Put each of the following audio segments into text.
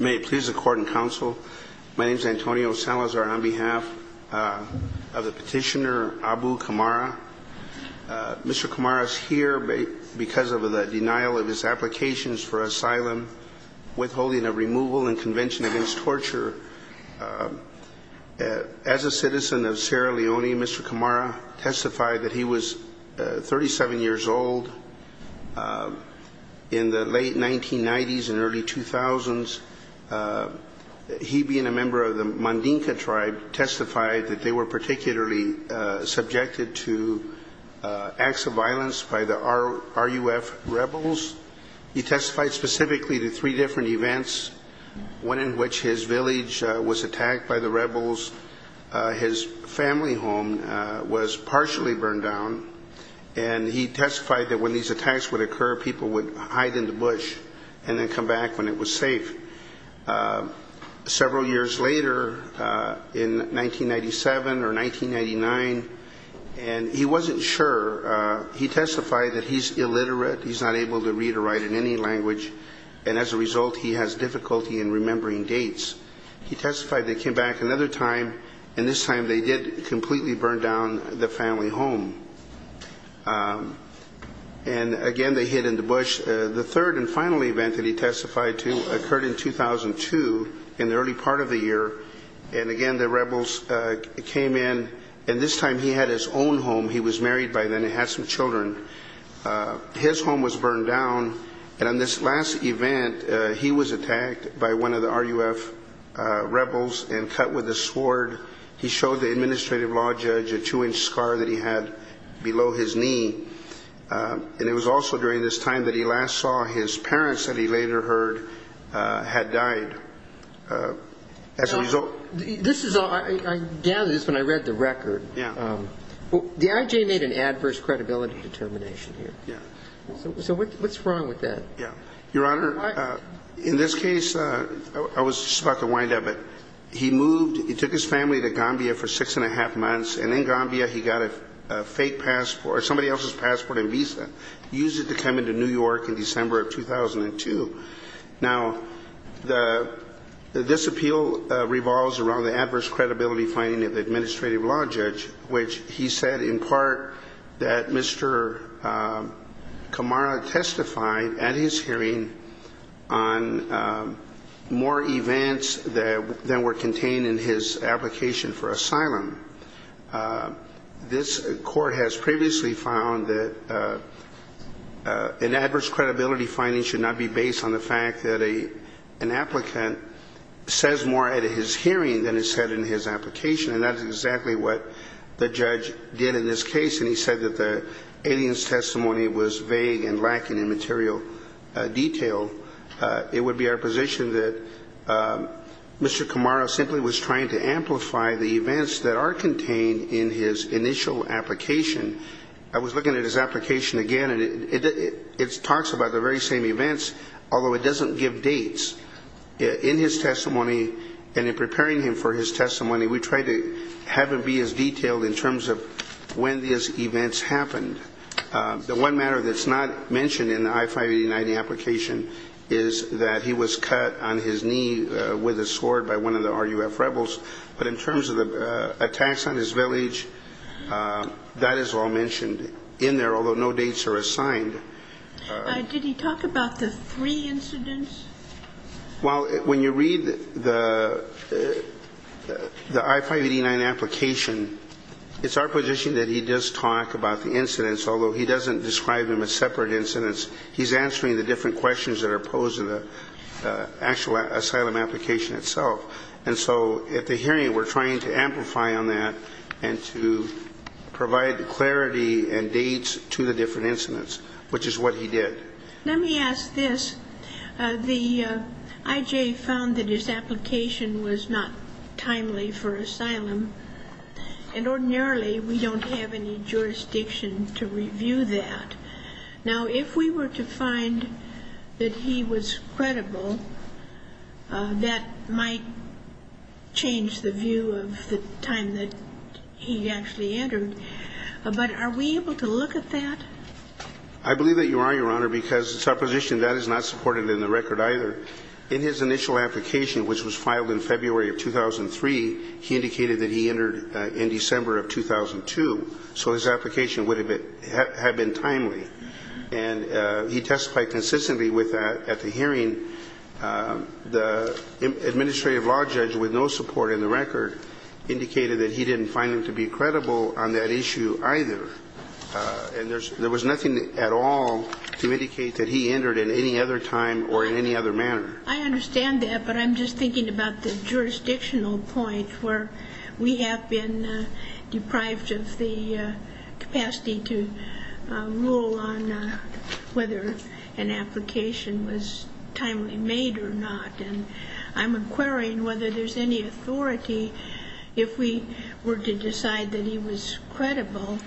May it please the court and counsel, my name is Antonio Salazar on behalf of the petitioner Abu Kamara. Mr. Kamara is here because of the denial of his applications for asylum, withholding a removal and convention against torture. As a citizen of Sierra Leone, Mr. Kamara testified that he was 37 years old in the late 1990s and early 2000s. He being a member of the Mandinka tribe testified that they were particularly subjected to acts of violence by the RUF rebels. He testified specifically to three different events, one in which his village was attacked by the rebels, his family home was partially burned down and he testified that when these attacks would occur people would hide in the bush and then come back when it was safe. Several years later in 1997 or 1999 and he wasn't sure he testified that he's illiterate, he's not able to read or write in any language and as a result he has difficulty in remembering dates. He testified they came back another time and this time they did completely burn down the family home and again they hid in the bush. The third and final event that he testified to occurred in 2002 in the early part of the year and again the rebels came in and this time he had his own home. He was married by then and had some children. His home was burned down and in this last event he was attacked by one of the RUF rebels and cut with a sword. He showed the administrative law judge a two-inch scar that he had below his knee and it was also during this time that he last saw his parents that he later heard had died. This is when I read the record. The IJ made an adverse credibility determination here. So what's wrong with that? Your Honor, in this case, I was just about to wind up, he took his family to New York in December of 2002. Now, this appeal revolves around the adverse credibility finding of the administrative law judge which he said in part that Mr. Kamara testified at his hearing on more events than were contained in his application for asylum. This court has previously found that an adverse credibility finding should not be based on the fact that an applicant says more at his hearing than is said in his application and that is exactly what the judge did in this case and he said that the aliens testimony was vague and lacking in material detail. It would be our position that Mr. Kamara simply was trying to amplify the events that are contained in his initial application. I was looking at his application again and it talks about the very same events, although it doesn't give dates. In his testimony and in preparing him for his testimony, we tried to have it be as detailed in terms of when these events happened. The one matter that's not mentioned in the I-589 application is that he was cut on his knee with a sword by one of the RUF rebels, but in terms of the attacks on his village, that is all mentioned in there, although no dates are assigned. Did he talk about the three incidents? Well, when you read the I-589 application, it's our position that he does talk about the incidents, although he doesn't describe them as separate incidents. He's answering the different questions that are posed in the actual asylum application itself and so at the hearing, we're trying to amplify on that and to provide clarity and dates to the different incidents, which is what he did. Let me ask this. The IJ found that his application was not timely for asylum and ordinarily, we don't have any jurisdiction to review that. Now, if we were to find that he was credible, that might change the view of the time that he actually entered, but are we able to look at that? I believe that you are, Your Honor, because it's our position that is not supported in the record either. In his initial application, which was filed in February of 2003, he indicated that he entered in December of 2002, so his application would have been timely, and he testified consistently with that at the hearing. The administrative law judge with no support in the record indicated that he didn't find him to be credible on that issue either, and there was nothing at all to indicate that he entered at any other time or in any other manner. I understand that, but I'm just thinking about the jurisdictional point where we have been deprived of the I'm inquiring whether there's any authority, if we were to decide that he was credible,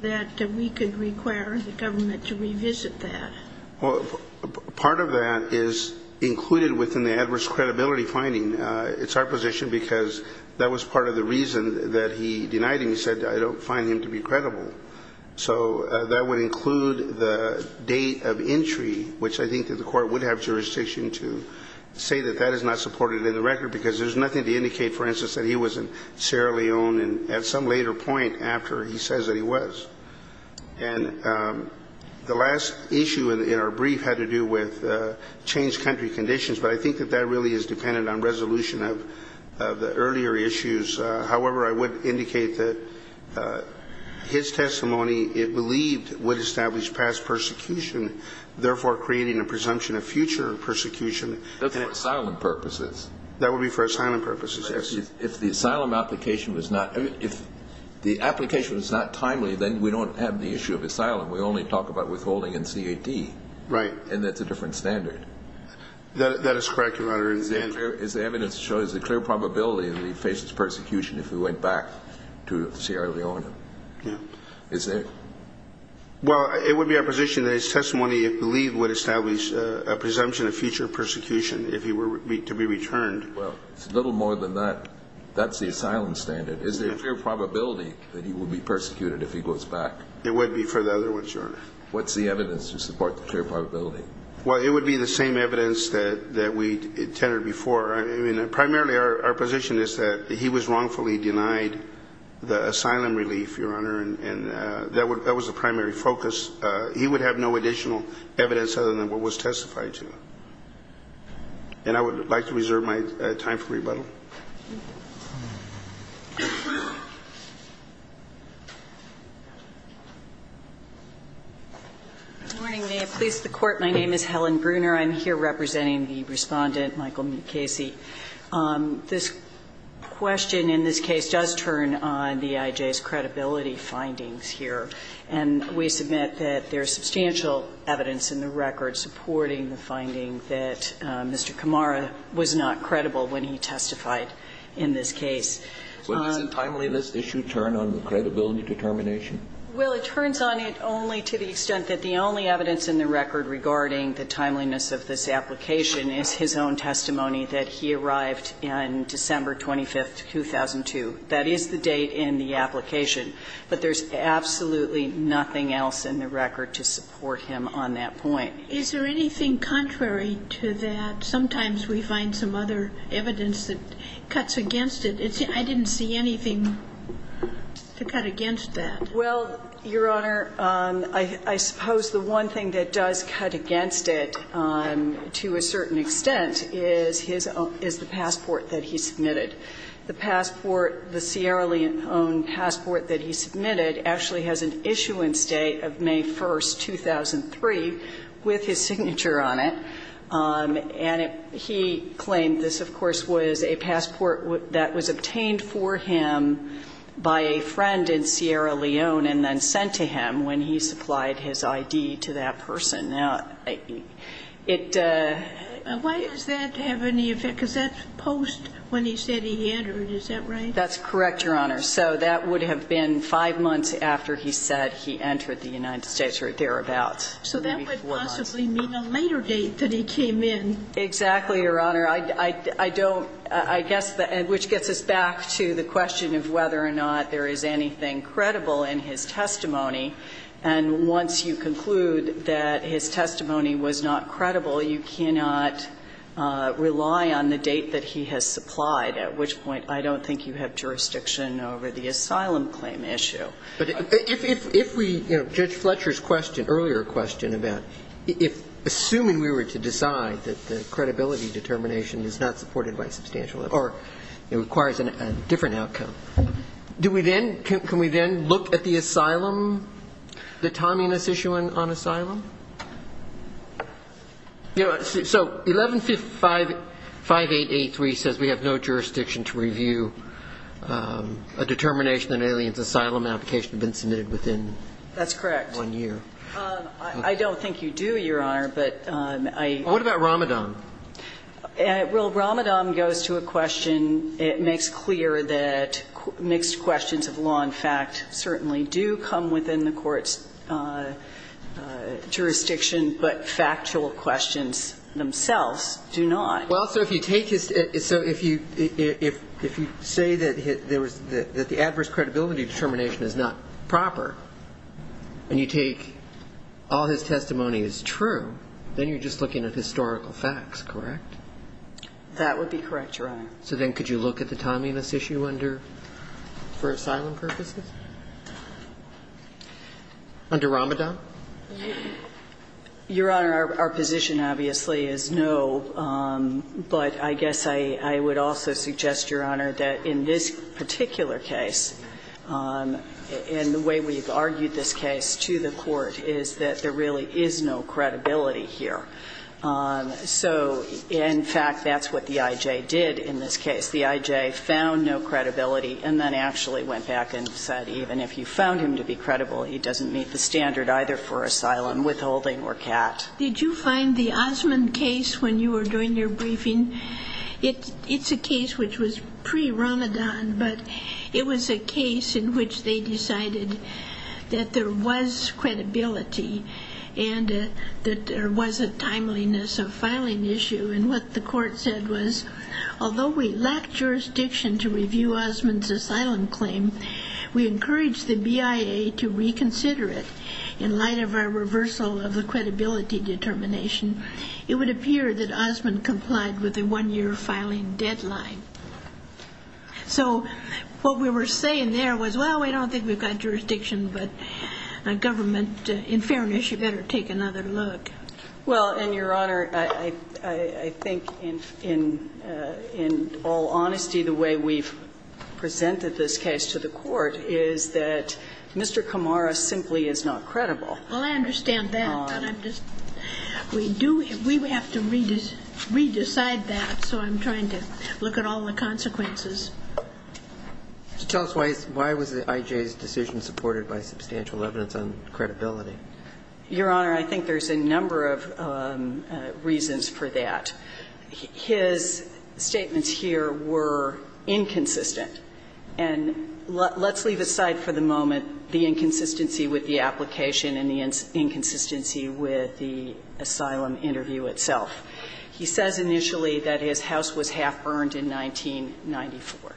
that we could require the government to revisit that. Well, part of that is included within the adverse credibility finding. It's our position because that was part of the reason that he denied him. He said, I don't find him to be credible. So that would include the date of entry, which I think that the Court would have jurisdiction to say that that is not supported in the record because there's nothing to indicate, for instance, that he was in Sierra Leone at some later point after he says that he was. And the last issue in our brief had to do with changed country conditions, but I think that that really is dependent on resolution of the earlier issues. However, I would indicate that his testimony, it believed, would establish past persecution, therefore creating a presumption of future persecution. That's for asylum purposes. That would be for asylum purposes, yes. If the asylum application was not timely, then we don't have the issue of asylum. We only talk about withholding in CAD. Right. And that's a different standard. That is correct, Your Honor. Is there evidence to show there's a clear probability that he'd face his persecution if he went back to Sierra Leone? Yeah. Well, it would be our position that his testimony, it believed, would establish a presumption of future persecution if he were to be returned. Well, it's a little more than that. That's the asylum standard. Is there a clear probability that he would be persecuted if he goes back? There would be for the other ones, Your Honor. What's the evidence to support the clear probability? Well, it would be the same evidence that we tenored before. I mean, primarily our position is that he was wrongfully denied the asylum relief, Your Honor, and that was the primary focus. He would have no additional evidence other than what was testified to. And I would like to reserve my time for rebuttal. Good morning. May it please the Court. My name is Helen Bruner. I'm here representing the Respondent, Michael McCasey. This question in this case does turn on the IJ's credibility findings here, and we submit that there's substantial evidence in the record supporting the finding that Mr. Kamara was not credible when he testified in this case. Does the timeliness issue turn on the credibility determination? Well, it turns on it only to the extent that the only evidence in the record regarding the timeliness of this application is his own testimony that he arrived on December 25th, 2002. That is the date in the application. But there's absolutely nothing else in the record to support him on that point. Is there anything contrary to that? Sometimes we find some other evidence that cuts against it. I didn't see anything to cut against that. Well, Your Honor, I suppose the one thing that does cut against it to a certain extent is his own – is the passport that he submitted. The passport, the Sierra Leone passport that he submitted actually has an issuance date of May 1st, 2003, with his signature on it. And he claimed this, of course, was a passport that was obtained for him by a friend in Sierra Leone and then sent to him when he supplied his I.D. to that person. Now, it – Why does that have any effect? Because that's post when he said he entered. Is that right? That's correct, Your Honor. So that would have been five months after he said he entered the United States or thereabouts. So that would possibly mean a later date that he came in. Exactly, Your Honor. I don't – I guess – which gets us back to the question of whether or not there is anything credible in his testimony. And once you conclude that his testimony was not credible, you cannot rely on the date that he has supplied, at which point I don't think you have jurisdiction over the asylum claim issue. But if we – you know, Judge Fletcher's question, earlier question about if – assuming we were to decide that the credibility determination is not supported by substantial or it requires a different outcome, do we then – can we then look at the asylum, the timing of this issue on asylum? So 1155883 says we have no jurisdiction to review a determination that an alien's asylum application had been submitted within one year. That's correct. I don't think you do, Your Honor, but I – What about Ramadan? Well, Ramadan goes to a question – it makes clear that mixed questions of law and fact certainly do come within the court's jurisdiction, but factual questions themselves do not. Well, so if you take his – so if you – if you say that there was – that the adverse credibility determination is not proper, and you take all his testimony is true, then you're just looking at historical facts, correct? That would be correct, Your Honor. So then could you look at the timing of this issue under – for asylum purposes? Under Ramadan? Your Honor, our position, obviously, is no, but I guess I would also suggest, Your Honor, that in this particular case, and the way we've argued this case to the So, in fact, that's what the IJ did in this case. The IJ found no credibility and then actually went back and said, even if you found him to be credible, he doesn't meet the standard either for asylum, withholding, or CAT. Did you find the Osman case when you were doing your briefing – it's a case which was pre-Ramadan, but it was a case in which they decided that there was credibility and that there was a timeliness of filing issue. And what the court said was, although we lack jurisdiction to review Osman's asylum claim, we encourage the BIA to reconsider it in light of our reversal of the credibility determination. It would appear that Osman complied with the one-year filing deadline. So what we were saying there was, well, we don't think we've got jurisdiction, but a government – in fairness, you better take another look. Well, and, Your Honor, I think in all honesty, the way we've presented this case to the court is that Mr. Kamara simply is not credible. Well, I understand that, but I'm just – we do – we have to re-decide that, so I'm trying to look at all the consequences. Tell us why was I.J.'s decision supported by substantial evidence on credibility. Your Honor, I think there's a number of reasons for that. His statements here were inconsistent, and let's leave aside for the moment the inconsistency with the application and the inconsistency with the asylum interview itself. He says initially that his house was half-burned in 1994.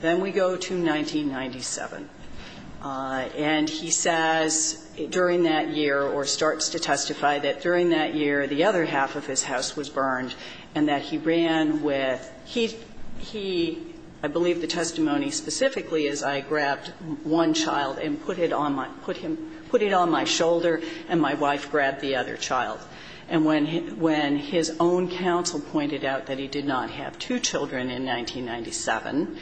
Then we go to 1997, and he says during that year or starts to testify that during that year the other half of his house was burned and that he ran with – he – I believe the testimony specifically is I grabbed one child and put it on my – put him – put it on my shoulder and my wife grabbed the other child. And when – when his own counsel pointed out that he did not have two children in 1997,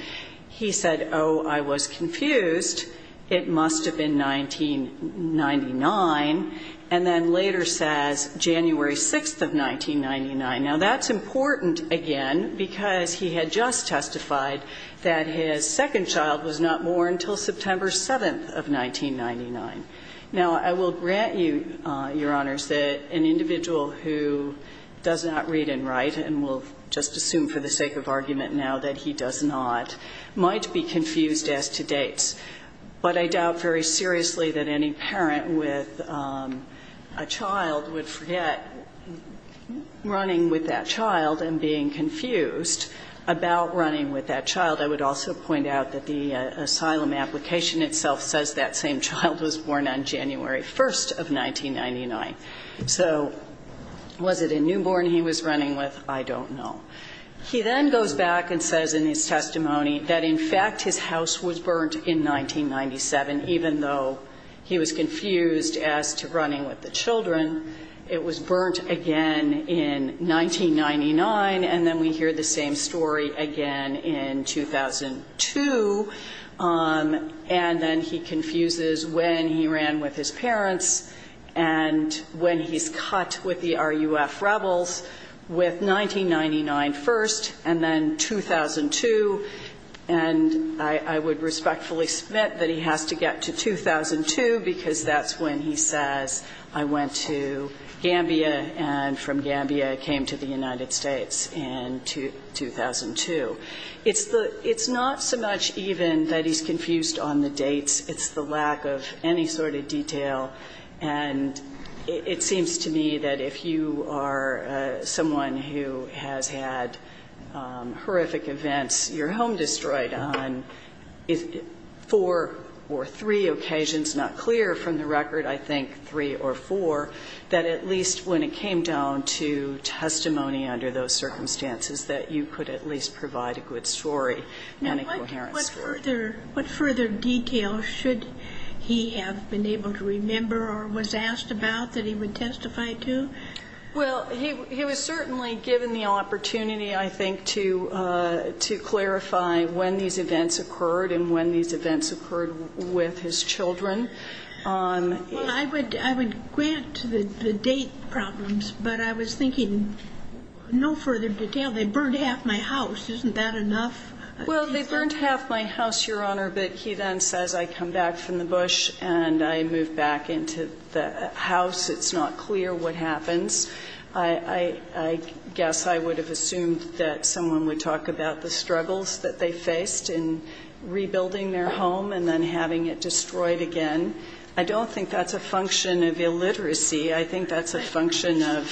he said, oh, I was confused. It must have been 1999. And then later says January 6th of 1999. Now, that's important, again, because he had just testified that his second child was not born until September 7th of 1999. Now, I will grant you, Your Honors, that an individual who does not read and write and will just assume for the sake of argument now that he does not might be confused as to dates, but I doubt very seriously that any parent with a child would forget running with that child and being confused about running with that child. I would also point out that the asylum application itself says that same child was born on January 1st of 1999. So was it a newborn he was running with? I don't know. He then goes back and says in his testimony that, in fact, his house was burnt in 1997 It was burnt again in 1999, and then we hear the same story again in 2002, and then he confuses when he ran with his parents and when he's cut with the RUF rebels with 1999 first and then 2002. And I would respectfully submit that he has to get to 2002, because that's when he says, I went to Gambia and from Gambia came to the United States in 2002. It's not so much even that he's confused on the dates. It's the lack of any sort of detail. And it seems to me that if you are someone who has had horrific events, your home or four, that at least when it came down to testimony under those circumstances, that you could at least provide a good story and a coherent story. Now, what further detail should he have been able to remember or was asked about that he would testify to? Well, he was certainly given the opportunity, I think, to clarify when these events occurred and when these events occurred with his children. Well, I would grant the date problems, but I was thinking no further detail. They burned half my house. Isn't that enough? Well, they burned half my house, Your Honor. But he then says, I come back from the bush and I move back into the house. It's not clear what happens. I guess I would have assumed that someone would talk about the struggles that they had. And I don't think that's a function of illiteracy. I think that's a function of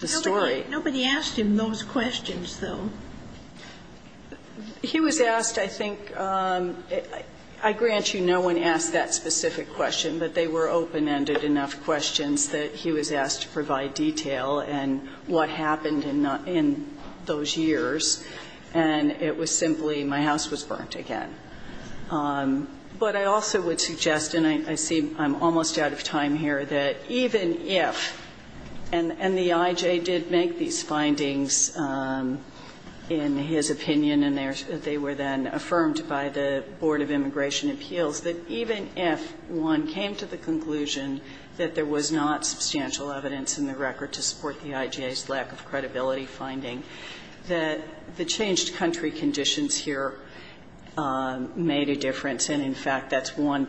the story. Nobody asked him those questions, though. He was asked, I think, I grant you no one asked that specific question, but they were open-ended enough questions that he was asked to provide detail and what happened in those years. And it was simply my house was burnt again. But I also would suggest, and I see I'm almost out of time here, that even if, and the I.J. did make these findings in his opinion and they were then affirmed by the Board of Immigration Appeals, that even if one came to the conclusion that there was not substantial evidence in the record to support the I.J.'s lack of credibility finding, that the changed country conditions here made a difference. And, in fact, that's one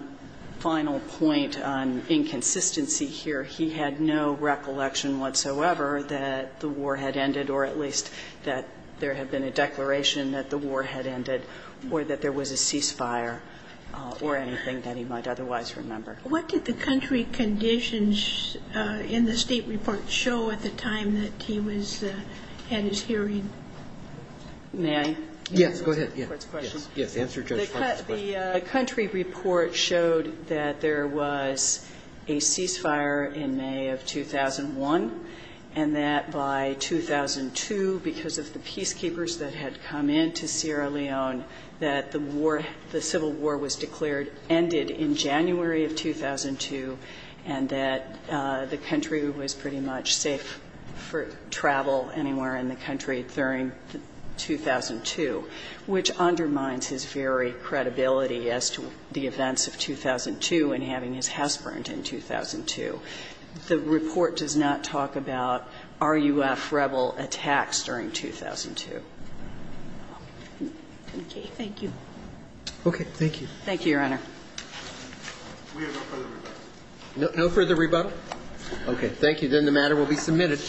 final point on inconsistency here. He had no recollection whatsoever that the war had ended, or at least that there had been a declaration that the war had ended or that there was a ceasefire or anything that he might otherwise remember. What did the country conditions in the State report show at the time that he was, had his hearing? May I? Yes. Go ahead. Yes. Yes. Answer Judge Farber's question. The country report showed that there was a ceasefire in May of 2001, and that by 2002, because of the peacekeepers that had come into Sierra Leone, that the war, the civil war was declared ended in January of 2002, and that the country was pretty much safe for travel anywhere in the country during 2002, which undermines his very credibility as to the events of 2002 and having his house burned in 2002. The report does not talk about RUF rebel attacks during 2002. Okay. Thank you. Thank you, Your Honor. We have no further rebuttal. No further rebuttal? Okay. Then the matter will be submitted.